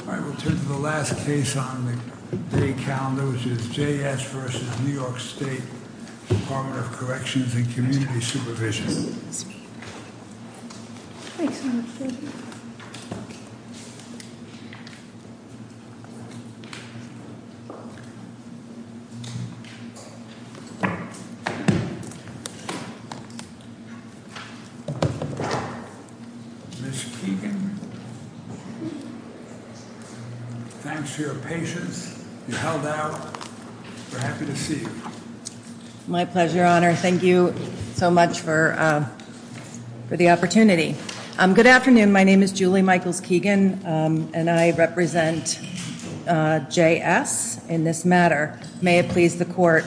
All right, we'll turn to the last case on the day calendar, which is J.S. v. New York State Department of Corrections and Community Supervision. Ms. Keegan. Thanks, Mr. Chairman. Ms. Keegan. Thanks for your patience. You held out. We're happy to see you. My pleasure, Your Honor. Thank you so much for the opportunity. Good afternoon. My name is Julie Michaels-Keegan, and I represent J.S. in this matter. May it please the Court.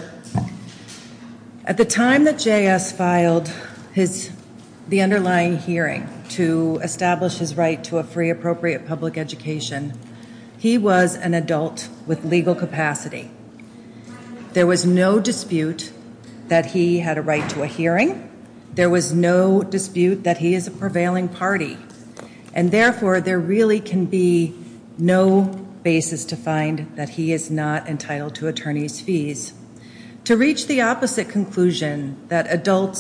At the time that J.S. filed the underlying hearing to establish his right to a free appropriate public education, he was an adult with legal capacity. There was no dispute that he had a right to a hearing. There was no dispute that he is a prevailing party. And therefore, there really can be no basis to find that he is not entitled to attorney's fees. To reach the opposite conclusion, that adult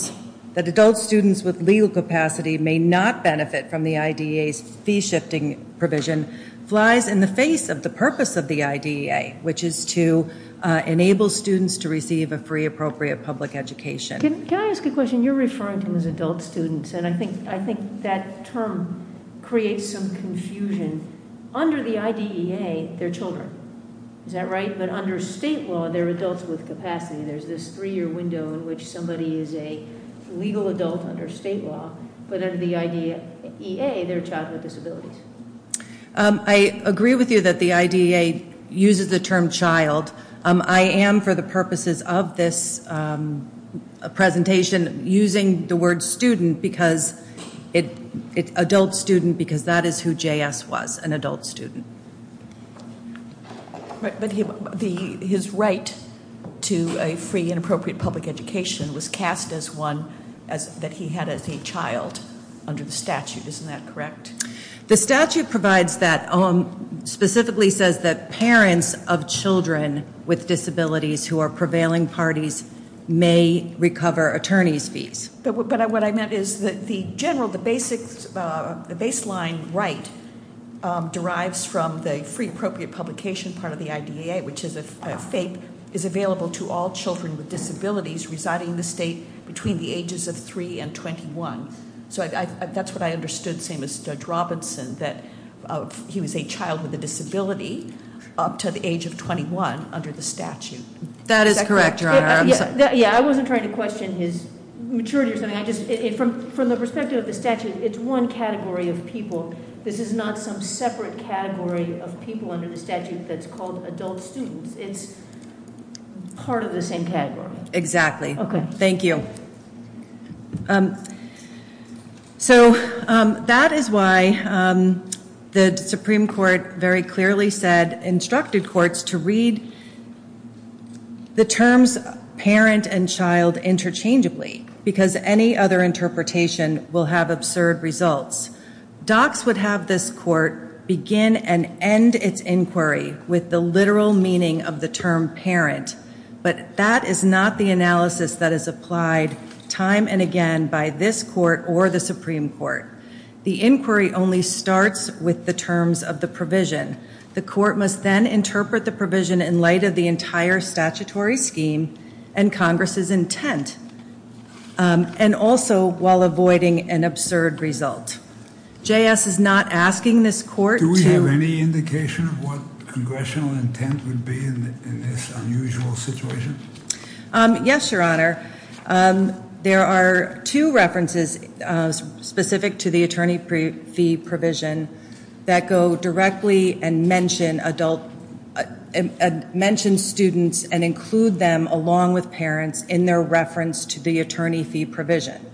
students with legal capacity may not benefit from the IDEA's fee-shifting provision, flies in the face of the purpose of the IDEA, which is to enable students to receive a free appropriate public education. Can I ask a question? You're referring to him as adult students, and I think that term creates some confusion. Under the IDEA, they're children. Is that right? But under state law, they're adults with capacity. There's this three-year window in which somebody is a legal adult under state law, but under the IDEA, they're a child with disabilities. I agree with you that the IDEA uses the term child. I am, for the purposes of this presentation, using the word student because it's adult student because that is who JS was, an adult student. But his right to a free and appropriate public education was cast as one that he had as a child under the statute. Isn't that correct? The statute provides that, specifically says that parents of children with disabilities who are prevailing parties may recover attorney's fees. But what I meant is that the general, the baseline right derives from the free appropriate publication part of the IDEA, which is a FAPE, is available to all children with disabilities residing in the state between the ages of 3 and 21. So that's what I understood, same as Judge Robinson, that he was a child with a disability up to the age of 21 under the statute. That is correct, Your Honor. Yeah, I wasn't trying to question his maturity or something. From the perspective of the statute, it's one category of people. This is not some separate category of people under the statute that's called adult students. It's part of the same category. Exactly. Thank you. So that is why the Supreme Court very clearly said, instructed courts to read the terms parent and child interchangeably, because any other interpretation will have absurd results. Docs would have this court begin and end its inquiry with the literal meaning of the term parent. But that is not the analysis that is applied time and again by this court or the Supreme Court. The inquiry only starts with the terms of the provision. The court must then interpret the provision in light of the entire statutory scheme and Congress's intent, and also while avoiding an absurd result. JS is not asking this court to- Yes, Your Honor. There are two references specific to the attorney fee provision that go directly and mention students and include them along with parents in their reference to the attorney fee provision.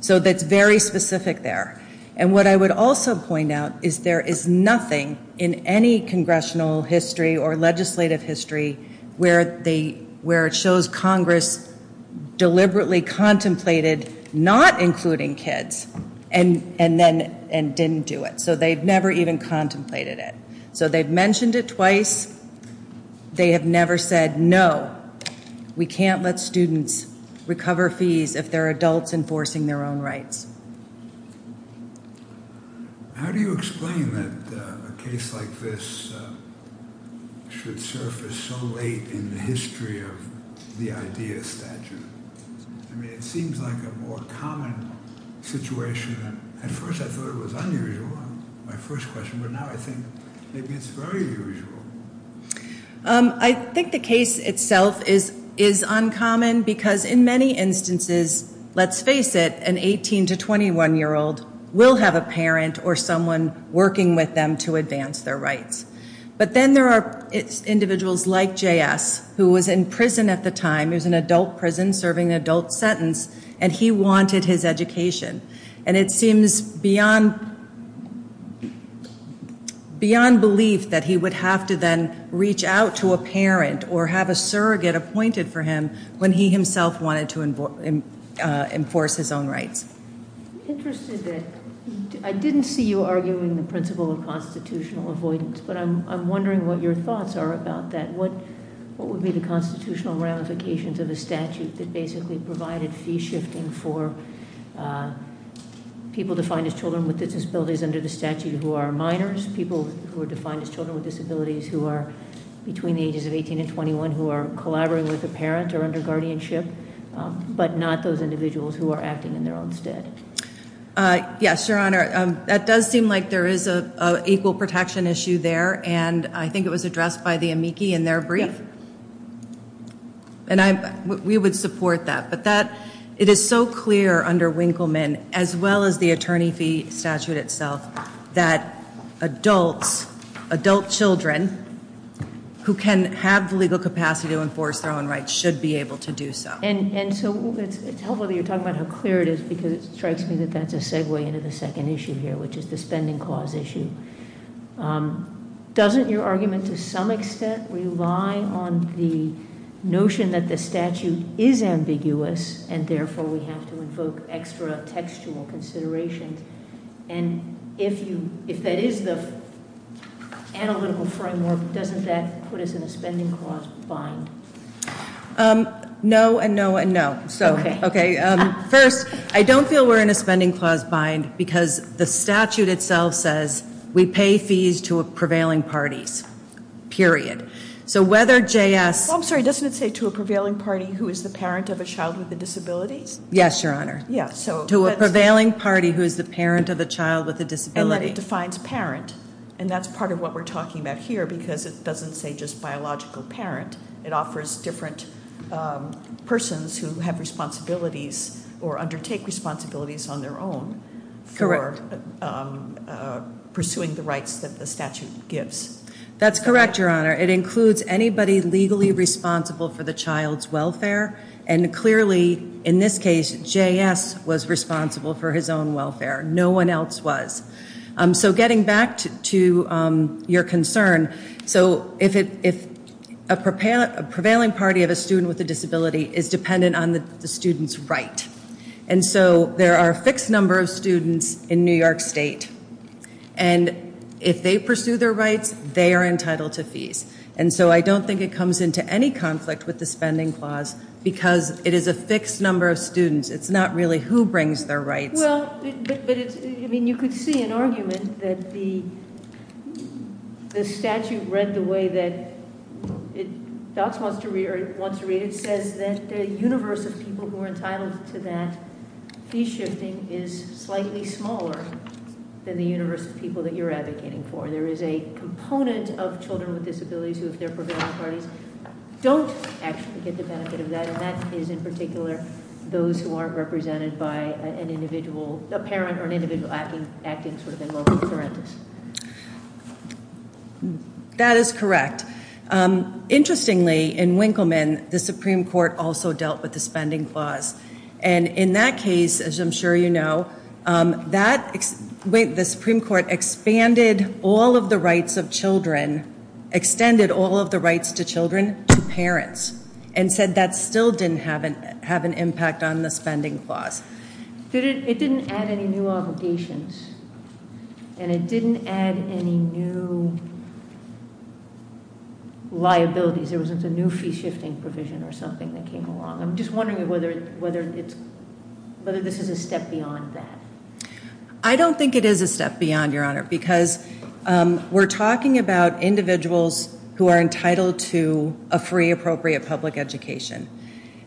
So that's very specific there. And what I would also point out is there is nothing in any congressional history or legislative history where it shows Congress deliberately contemplated not including kids and didn't do it. So they've never even contemplated it. So they've mentioned it twice. They have never said, no, we can't let students recover fees if they're adults enforcing their own rights. How do you explain that a case like this should surface so late in the history of the IDEA statute? I mean, it seems like a more common situation. At first I thought it was unusual, my first question, but now I think maybe it's very usual. I think the case itself is uncommon because in many instances, let's face it, an 18 to 21-year-old will have a parent or someone working with them to advance their rights. But then there are individuals like J.S. who was in prison at the time, it was an adult prison serving an adult sentence, and he wanted his education. And it seems beyond belief that he would have to then reach out to a parent or have a surrogate appointed for him when he himself wanted to enforce his own rights. I'm interested that, I didn't see you arguing the principle of constitutional avoidance, but I'm wondering what your thoughts are about that. What would be the constitutional ramifications of the statute that basically provided fee shifting for people defined as children with disabilities under the statute who are minors, people who are defined as children with disabilities who are between the ages of 18 and 21 who are collaborating with a parent or under guardianship, but not those individuals who are acting in their own stead? Yes, Your Honor. That does seem like there is an equal protection issue there, and I think it was addressed by the amici in their brief. And we would support that. But it is so clear under Winkleman, as well as the attorney fee statute itself, that adults, adult children, who can have the legal capacity to enforce their own rights, should be able to do so. And so it's helpful that you're talking about how clear it is, because it strikes me that that's a segue into the second issue here, which is the spending clause issue. Doesn't your argument, to some extent, rely on the notion that the statute is ambiguous, and therefore we have to invoke extra textual considerations? And if that is the analytical framework, doesn't that put us in a spending clause bind? No, and no, and no. Okay. First, I don't feel we're in a spending clause bind, because the statute itself says we pay fees to prevailing parties. Period. So whether JS- I'm sorry, doesn't it say to a prevailing party who is the parent of a child with a disability? Yes, Your Honor. To a prevailing party who is the parent of a child with a disability. And that it defines parent, and that's part of what we're talking about here, because it doesn't say just biological parent. It offers different persons who have responsibilities, or undertake responsibilities on their own, for pursuing the rights that the statute gives. That's correct, Your Honor. It includes anybody legally responsible for the child's welfare, and clearly, in this case, JS was responsible for his own welfare. No one else was. So getting back to your concern, so if a prevailing party of a student with a disability is dependent on the student's right, and so there are a fixed number of students in New York State, and if they pursue their rights, they are entitled to fees. And so I don't think it comes into any conflict with the spending clause, because it is a fixed number of students. It's not really who brings their rights. Well, but it's, I mean, you could see an argument that the statute read the way that it wants to read it. It says that the universe of people who are entitled to that fee shifting is slightly smaller than the universe of people that you're advocating for. There is a component of children with disabilities who, if they're prevailing parties, don't actually get the benefit of that, and that is in particular those who aren't represented by an individual, a parent or an individual acting sort of in loco parentis. That is correct. Interestingly, in Winkleman, the Supreme Court also dealt with the spending clause. And in that case, as I'm sure you know, the Supreme Court expanded all of the rights of children, extended all of the rights to children to parents, and said that still didn't have an impact on the spending clause. It didn't add any new obligations, and it didn't add any new liabilities. There wasn't a new fee shifting provision or something that came along. I'm just wondering whether this is a step beyond that. I don't think it is a step beyond, Your Honor, because we're talking about individuals who are entitled to a free, appropriate public education.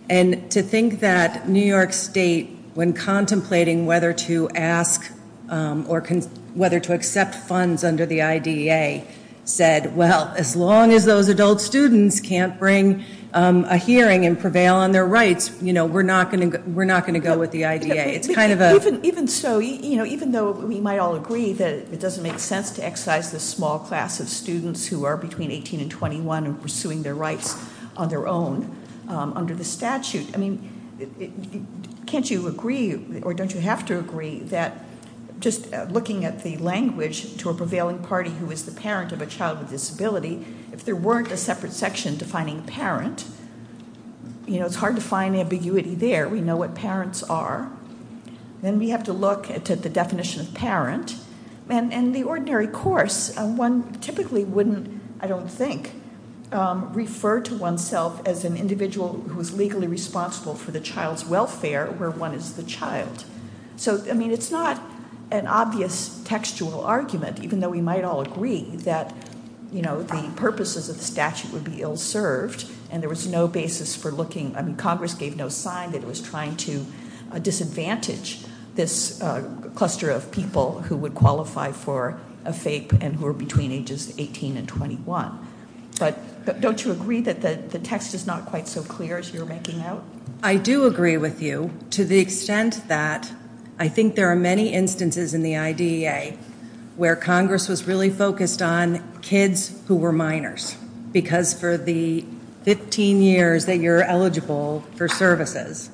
And to think that New York State, when contemplating whether to ask or whether to accept funds under the IDEA, said, well, as long as those adult students can't bring a hearing and prevail on their rights, we're not going to go with the IDEA. Even though we might all agree that it doesn't make sense to excise the small class of students who are between 18 and 21 and pursuing their rights on their own under the statute, can't you agree, or don't you have to agree, that just looking at the language to a prevailing party who is the parent of a child with a disability, if there weren't a separate section defining parent, it's hard to find ambiguity there. We know what parents are. Then we have to look at the definition of parent. In the ordinary course, one typically wouldn't, I don't think, refer to oneself as an individual who is legally responsible for the child's welfare, where one is the child. It's not an obvious textual argument, even though we might all agree that the purposes of the statute would be ill-served and there was no basis for looking. Congress gave no sign that it was trying to disadvantage this cluster of people who would qualify for a FAPE and who are between ages 18 and 21. But don't you agree that the text is not quite so clear as you're making out? I do agree with you to the extent that I think there are many instances in the IDEA where Congress was really focused on kids who were minors, because for the 15 years that you're eligible for services,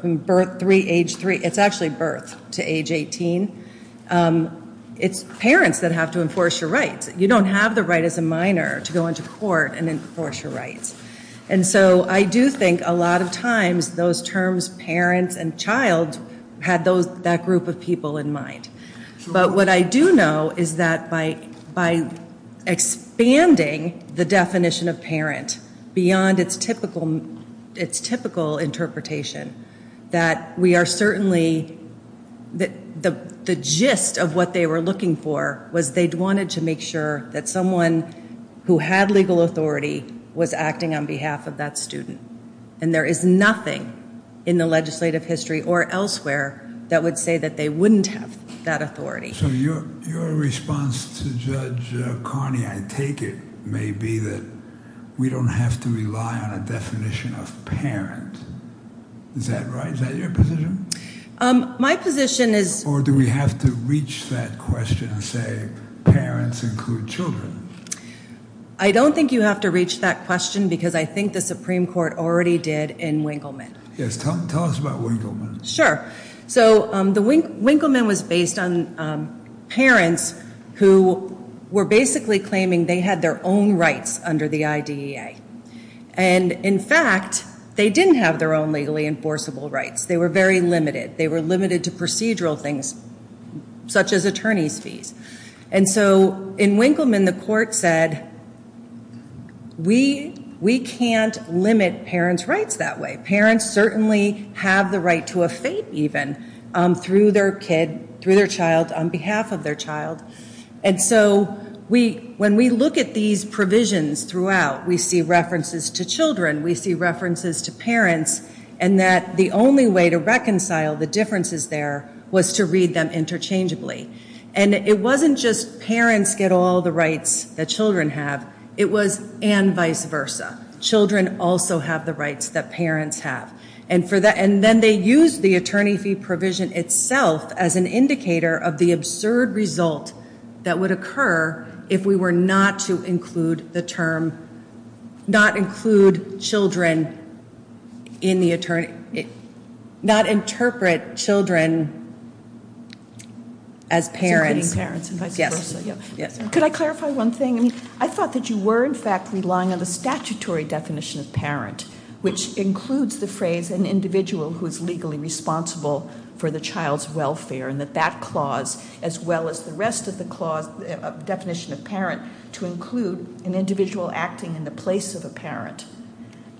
from birth 3, age 3, it's actually birth to age 18, it's parents that have to enforce your rights. You don't have the right as a minor to go into court and enforce your rights. And so I do think a lot of times those terms parents and child had that group of people in mind. But what I do know is that by expanding the definition of parent, beyond its typical interpretation, that we are certainly, the gist of what they were looking for was they wanted to make sure that someone who had legal authority was acting on behalf of that student. And there is nothing in the legislative history or elsewhere that would say that they wouldn't have that authority. So your response to Judge Carney, I take it, may be that we don't have to rely on a definition of parent. Is that right? Is that your position? My position is... Or do we have to reach that question and say, parents include children? I don't think you have to reach that question because I think the Supreme Court already did in Winkleman. Yes, tell us about Winkleman. Sure. So Winkleman was based on parents who were basically claiming they had their own rights under the IDEA. And in fact, they didn't have their own legally enforceable rights. They were very limited. They were limited to procedural things, such as attorney's fees. And so in Winkleman, the court said, we can't limit parents' rights that way. Parents certainly have the right to a fate, even, through their kid, through their child, on behalf of their child. And so when we look at these provisions throughout, we see references to children, we see references to parents, and that the only way to reconcile the differences there was to read them interchangeably. And it wasn't just parents get all the rights that children have. It was and vice versa. Children also have the rights that parents have. And then they used the attorney fee provision itself as an indicator of the absurd result that would occur if we were not to include the term, not include children in the attorney, not interpret children as parents. Interpreting parents and vice versa. Yes. Could I clarify one thing? I mean, I thought that you were, in fact, relying on the statutory definition of parent, which includes the phrase, an individual who is legally responsible for the child's welfare, and that that clause, as well as the rest of the definition of parent, to include an individual acting in the place of a parent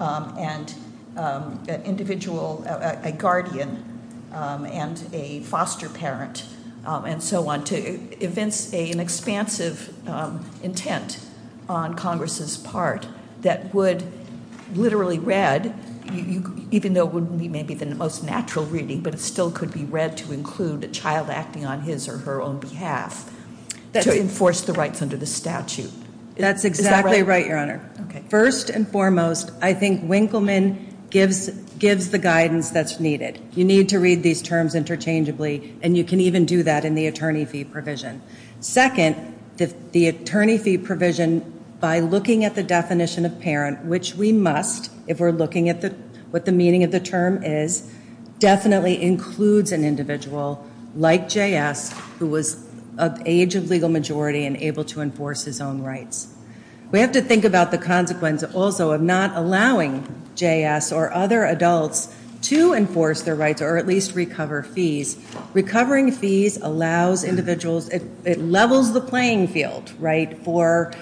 and an individual, a guardian, and a foster parent, and so on, to evince an expansive intent on Congress's part that would literally read, even though it wouldn't be maybe the most natural reading, but it still could be read to include a child acting on his or her own behalf, to enforce the rights under the statute. That's exactly right, Your Honor. Okay. First and foremost, I think Winkleman gives the guidance that's needed. You need to read these terms interchangeably, and you can even do that in the attorney fee provision. Second, the attorney fee provision, by looking at the definition of parent, which we must, if we're looking at what the meaning of the term is, definitely includes an individual, like J.S., who was of age of legal majority and able to enforce his own rights. We have to think about the consequence, also, of not allowing J.S. or other adults to enforce their rights, or at least recover fees. Recovering fees allows individuals, it levels the playing field, right, for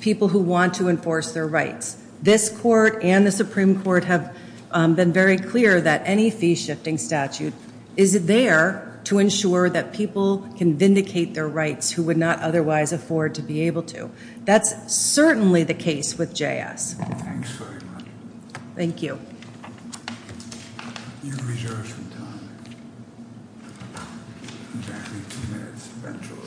people who want to enforce their rights. This Court and the Supreme Court have been very clear that any fee-shifting statute, is there to ensure that people can vindicate their rights who would not otherwise afford to be able to. That's certainly the case with J.S. Thanks very much. Thank you. You have reserved some time. You have 15 minutes, eventually.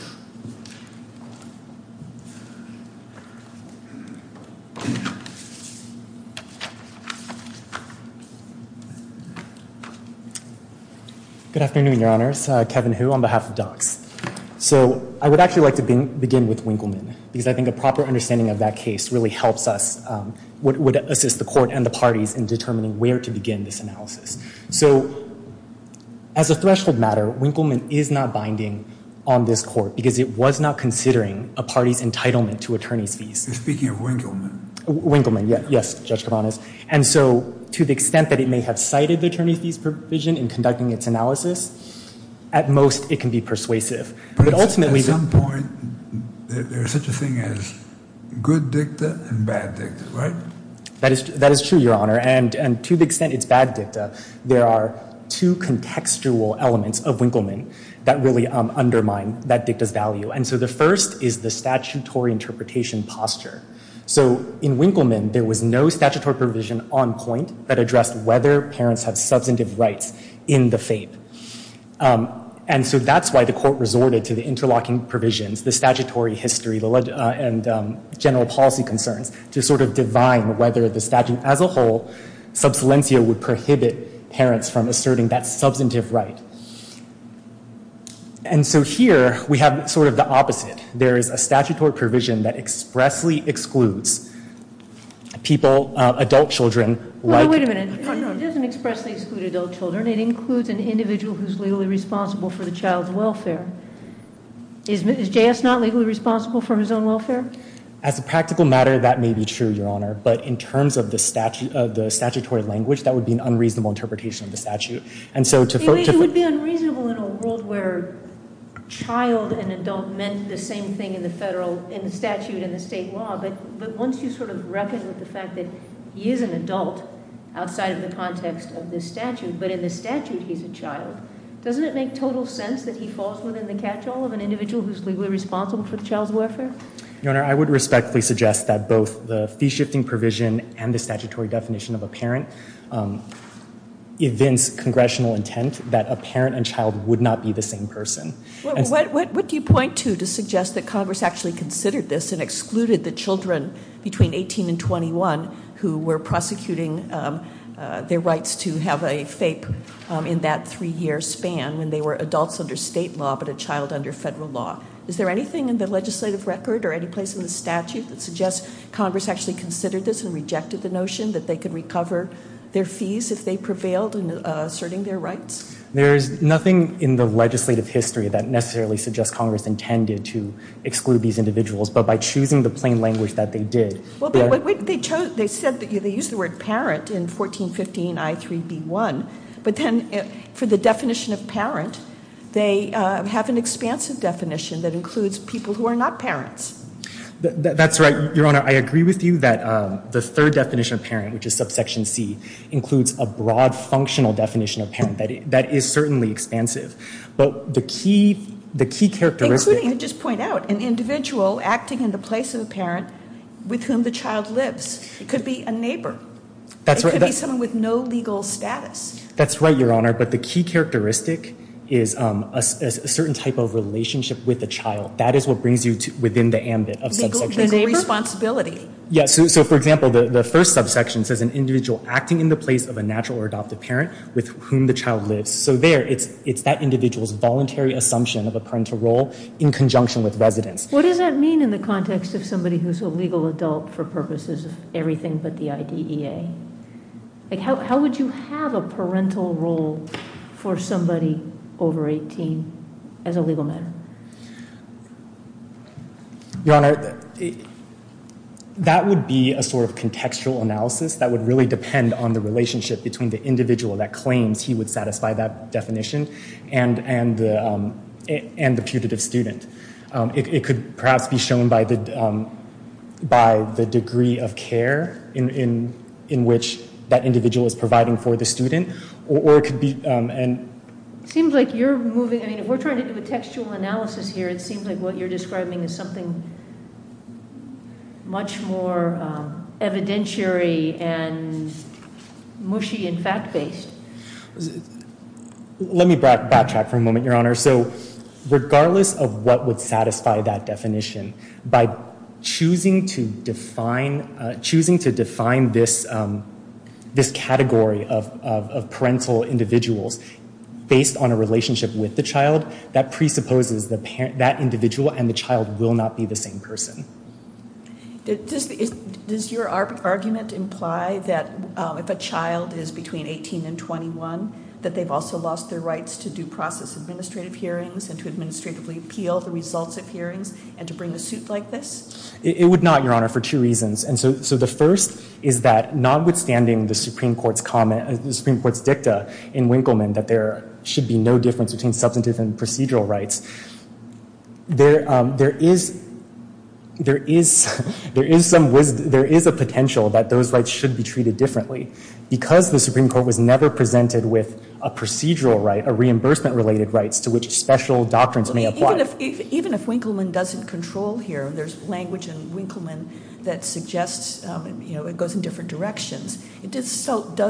Good afternoon, Your Honors. Kevin Hu, on behalf of DOCS. So, I would actually like to begin with Winkleman, because I think a proper understanding of that case really helps us, would assist the Court and the parties in determining where to begin this analysis. So, as a threshold matter, Winkleman is not binding on this Court, because it was not considering a party's entitlement to attorney's fees. You're speaking of Winkleman. Winkleman, yes, Judge Kavanos. And so, to the extent that it may have cited the attorney's fees provision in conducting its analysis, at most, it can be persuasive. But ultimately... At some point, there's such a thing as good dicta and bad dicta, right? That is true, Your Honor. And to the extent it's bad dicta, there are two contextual elements of Winkleman that really undermine that dicta's value. And so, the first is the statutory interpretation posture. So, in Winkleman, there was no statutory provision on point that addressed whether parents have substantive rights in the FAPE. And so, that's why the Court resorted to the interlocking provisions, the statutory history and general policy concerns, to sort of divine whether the statute as a whole, sub silencio, would prohibit parents from asserting that substantive right. And so, here, we have sort of the opposite. There is a statutory provision that expressly excludes people, adult children... Wait a minute. It doesn't expressly exclude adult children. It includes an individual who's legally responsible for the child's welfare. Is J.S. not legally responsible for his own welfare? As a practical matter, that may be true, Your Honor. But in terms of the statutory language, that would be an unreasonable interpretation of the statute. It would be unreasonable in a world where child and adult meant the same thing in the statute and the state law. But once you sort of reckon with the fact that he is an adult outside of the context of this statute, but in the statute he's a child, doesn't it make total sense that he falls within the catch-all of an individual who's legally responsible for the child's welfare? Your Honor, I would respectfully suggest that both the fee-shifting provision and the statutory definition of a parent evince congressional intent that a parent and child would not be the same person. What do you point to to suggest that Congress actually considered this and excluded the children between 18 and 21 who were prosecuting their rights to have a FAPE in that 3-year span when they were adults under state law but a child under federal law? Is there anything in the legislative record or any place in the statute that suggests Congress actually considered this and rejected the notion that they could recover their fees if they prevailed in asserting their rights? There's nothing in the legislative history that necessarily suggests Congress intended to exclude these individuals. But by choosing the plain language that they did... They used the word parent in 1415 I3B1, but then for the definition of parent, they have an expansive definition that includes people who are not parents. That's right, Your Honor. I agree with you that the third definition of parent, which is subsection C, includes a broad functional definition of parent that is certainly expansive. But the key characteristic... Just to point out, an individual acting in the place of a parent with whom the child lives could be a neighbor. It could be someone with no legal status. That's right, Your Honor, but the key characteristic is a certain type of relationship with the child. That is what brings you within the ambit of subsection C. Legal responsibility. For example, the first subsection says an individual acting in the place of a natural or adopted parent with whom the child lives. So there, it's that individual's voluntary assumption of a parental role in conjunction with residence. What does that mean in the context of somebody who's a legal adult for purposes of everything but the IDEA? How would you have a parental role for somebody over 18 as a legal matter? Your Honor, that would be a sort of contextual analysis that would really depend on the relationship between the individual that claims he would satisfy that definition and the putative student. It could perhaps be shown by the degree of care in which that individual is providing for the student, or it could be... It seems like you're moving... If we're trying to do a textual analysis here, it seems like what you're describing is something much more evidentiary and mushy and fact-based. Let me backtrack for a moment, Your Honor. So regardless of what would satisfy that definition, by choosing to define... choosing to define this category of parental individuals based on a relationship with the child, that presupposes that individual and the child will not be the same person. Does your argument imply that if a child is between 18 and 21, that they've also lost their rights to due process administrative hearings and to administratively appeal the results of hearings and to bring a suit like this? It would not, Your Honor, for two reasons. And so the first is that, notwithstanding the Supreme Court's comment... the Supreme Court's dicta in Winkleman that there should be no difference between substantive and procedural rights, there is... there is... there is a potential that those rights should be treated differently. Because the Supreme Court was never presented with a procedural right, a reimbursement-related right, to which special doctrines may apply. Even if Winkleman doesn't control here, there's language in Winkleman that suggests, you know, it goes in different directions. It does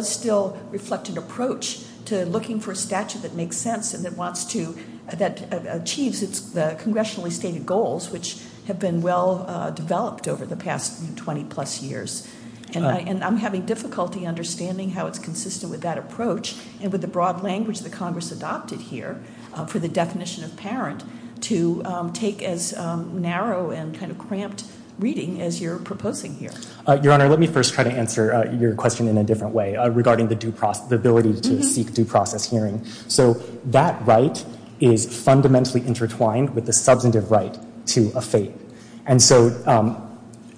still reflect an approach to looking for a statute that makes sense and that wants to... that achieves the congressionally stated goals, which have been well developed over the past 20-plus years. And I'm having difficulty understanding how it's consistent with that approach and with the broad language that Congress adopted here for the definition of parent to take as narrow and kind of cramped reading as you're proposing here. Your Honor, let me first try to answer your question in a different way regarding the due process... the ability to seek due process hearing. So that right is fundamentally intertwined with the substantive right to a fate. And so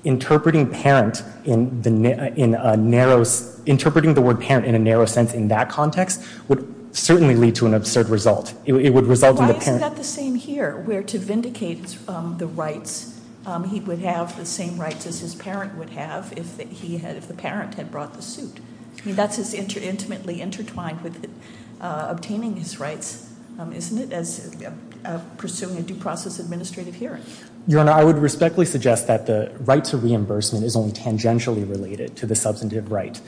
interpreting parent in a narrow... interpreting the word parent in a narrow sense in that context would certainly lead to an absurd result. It would result in the parent... Why is that the same here, where to vindicate the rights, he would have the same rights as his parent would have if the parent had brought the suit? I mean, that's as intimately intertwined with obtaining his rights, isn't it, as pursuing a due process administrative hearing? Your Honor, I would respectfully suggest that the right to reimbursement is only tangentially related to the substantive right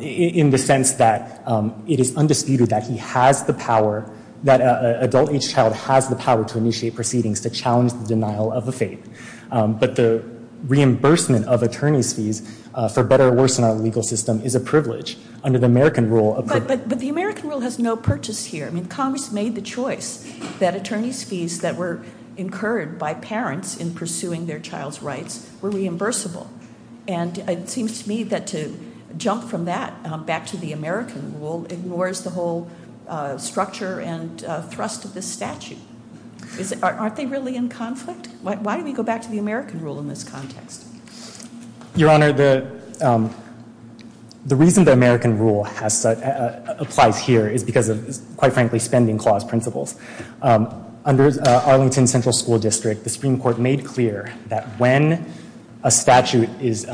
in the sense that it is undisputed that he has the power... that an adult age child has the power to initiate proceedings to challenge the denial of a fate. But the reimbursement of attorney's fees for better or worse in our legal system is a privilege under the American rule... But the American rule has no purchase here. I mean, Congress made the choice that attorney's fees that were incurred by parents in pursuing their child's rights were reimbursable. And it seems to me that to jump from that back to the American rule ignores the whole structure and thrust of this statute. Aren't they really in conflict? Why do we go back to the American rule in this context? Your Honor, the reason the American rule applies here is because of, quite frankly, spending clause principles. Under Arlington Central School District, the Supreme Court made clear that when a statute is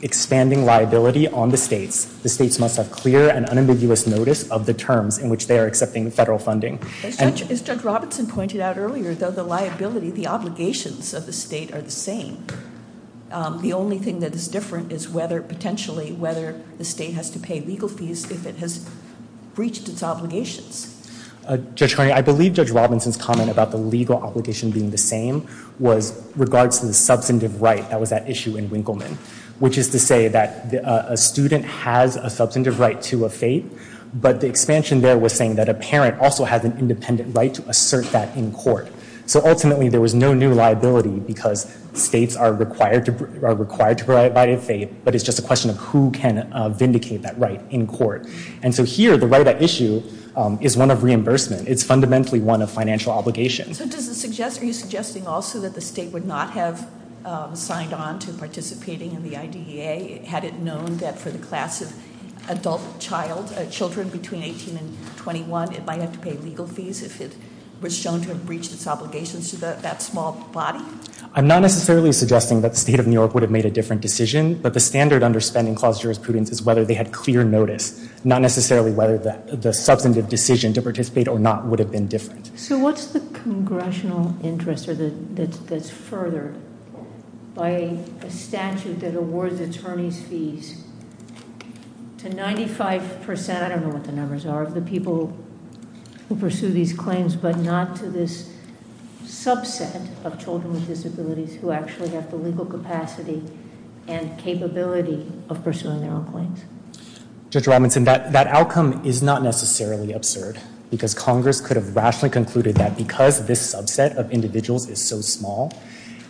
expanding liability on the states, the states must have clear and unambiguous notice of the terms in which they are accepting federal funding. As Judge Robinson pointed out earlier, though the liability, the obligations of the state are the same, the only thing that is different is potentially whether the state has to pay legal fees if it has breached its obligations. Judge Carney, I believe Judge Robinson's comment about the legal obligation being the same was regards to the substantive right that was at issue in Winkleman, which is to say that a student has a substantive right to a fate, but the expansion there was saying that a parent also has an independent right to assert that in court. So ultimately, there was no new liability because states are required to provide a fate, but it's just a question of who can vindicate that right in court. And so here, the right at issue is one of reimbursement. It's fundamentally one of financial obligations. Are you suggesting also that the state would not have signed on to participating in the IDEA had it known that for the class of adult child, children between 18 and 21, it might have to pay legal fees if it was shown to have breached its obligations to that small body? I'm not necessarily suggesting that the state of New York would have made a different decision, but the standard under spending clause jurisprudence is whether they had clear notice, not necessarily whether the substantive decision to participate or not would have been different. So what's the congressional interest that's furthered by a statute that awards attorneys fees to 95%, I don't know what the numbers are, of the people who pursue these claims, but not to this subset of children with disabilities who actually have the legal capacity and capability of pursuing their own claims? Judge Robinson, that outcome is not necessarily absurd, because Congress could have rationally concluded that because this subset of individuals is so small,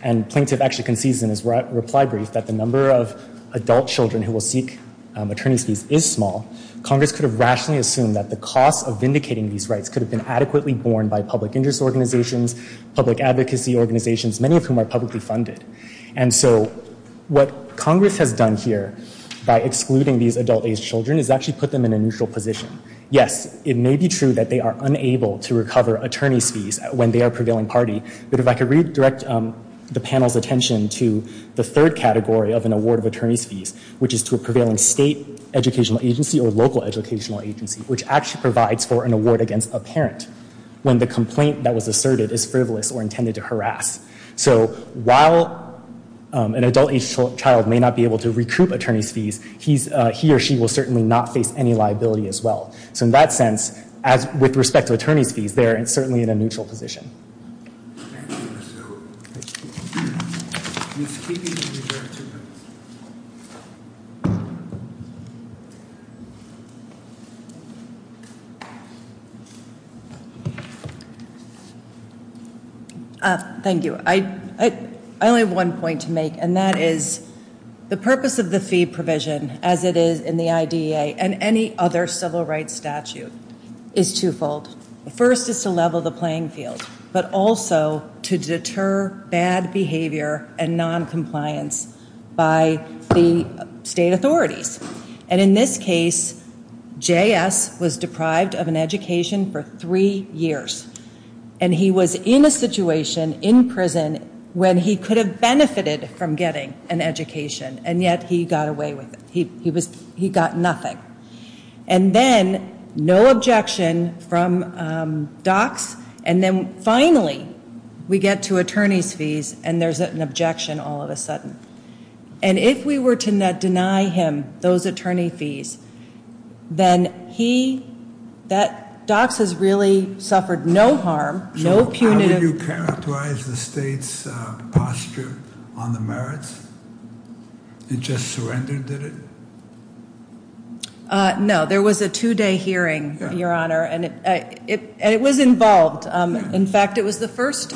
and Plaintiff actually concedes in his reply brief that the number of adult children who will seek attorney's fees is small, Congress could have rationally assumed that the cost of vindicating these rights could have been adequately borne by public interest organizations, public advocacy organizations, many of whom are publicly funded. And so, what Congress has done here, by excluding these adult aged children, is actually put them in a neutral position. Yes, it may be true that they are unable to recover attorney's fees when they are a prevailing party, but if I could redirect the panel's attention to the third category of an award of attorney's fees, which is to a prevailing state educational agency or local educational agency, which actually provides for an award against a child who, as asserted, is frivolous or intended to harass. So, while an adult aged child may not be able to recoup attorney's fees, he or she will certainly not face any liability as well. So in that sense, with respect to attorney's fees, they are certainly in a neutral position. Thank you. I only have one point to make, and that is the purpose of the fee provision, as it is in the IDEA and any other civil rights statute, is twofold. The first is to level the playing field, but also to deter bad behavior and noncompliance by the state authorities. And in this case, J.S. was deprived of an education for three years, and he was in a situation, in prison, when he could have benefited from getting an education, and yet he got away with it. He got nothing. And then, no objection from DOCS, and then, finally, we get to attorney's fees, and there's an objection all of a sudden. And if we were to deny him those attorney fees, then he that DOCS has really suffered no harm, no punitive... So how would you characterize the state's posture on the merits? It just surrendered, did it? No. There was a two-day hearing, Your Honor, and it was involved. In fact, it was the first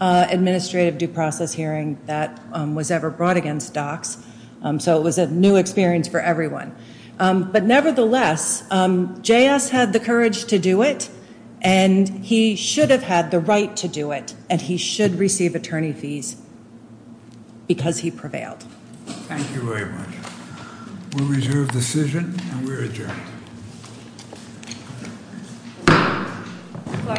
administrative due process hearing that was ever brought against DOCS, so it was a new experience for everyone. But, nevertheless, JS had the courage to do it, and he should have had the right to do it, and he should receive attorney fees because he prevailed. Thank you very much. We'll reserve decision, and we're adjourned. Court is adjourned. Court is adjourned.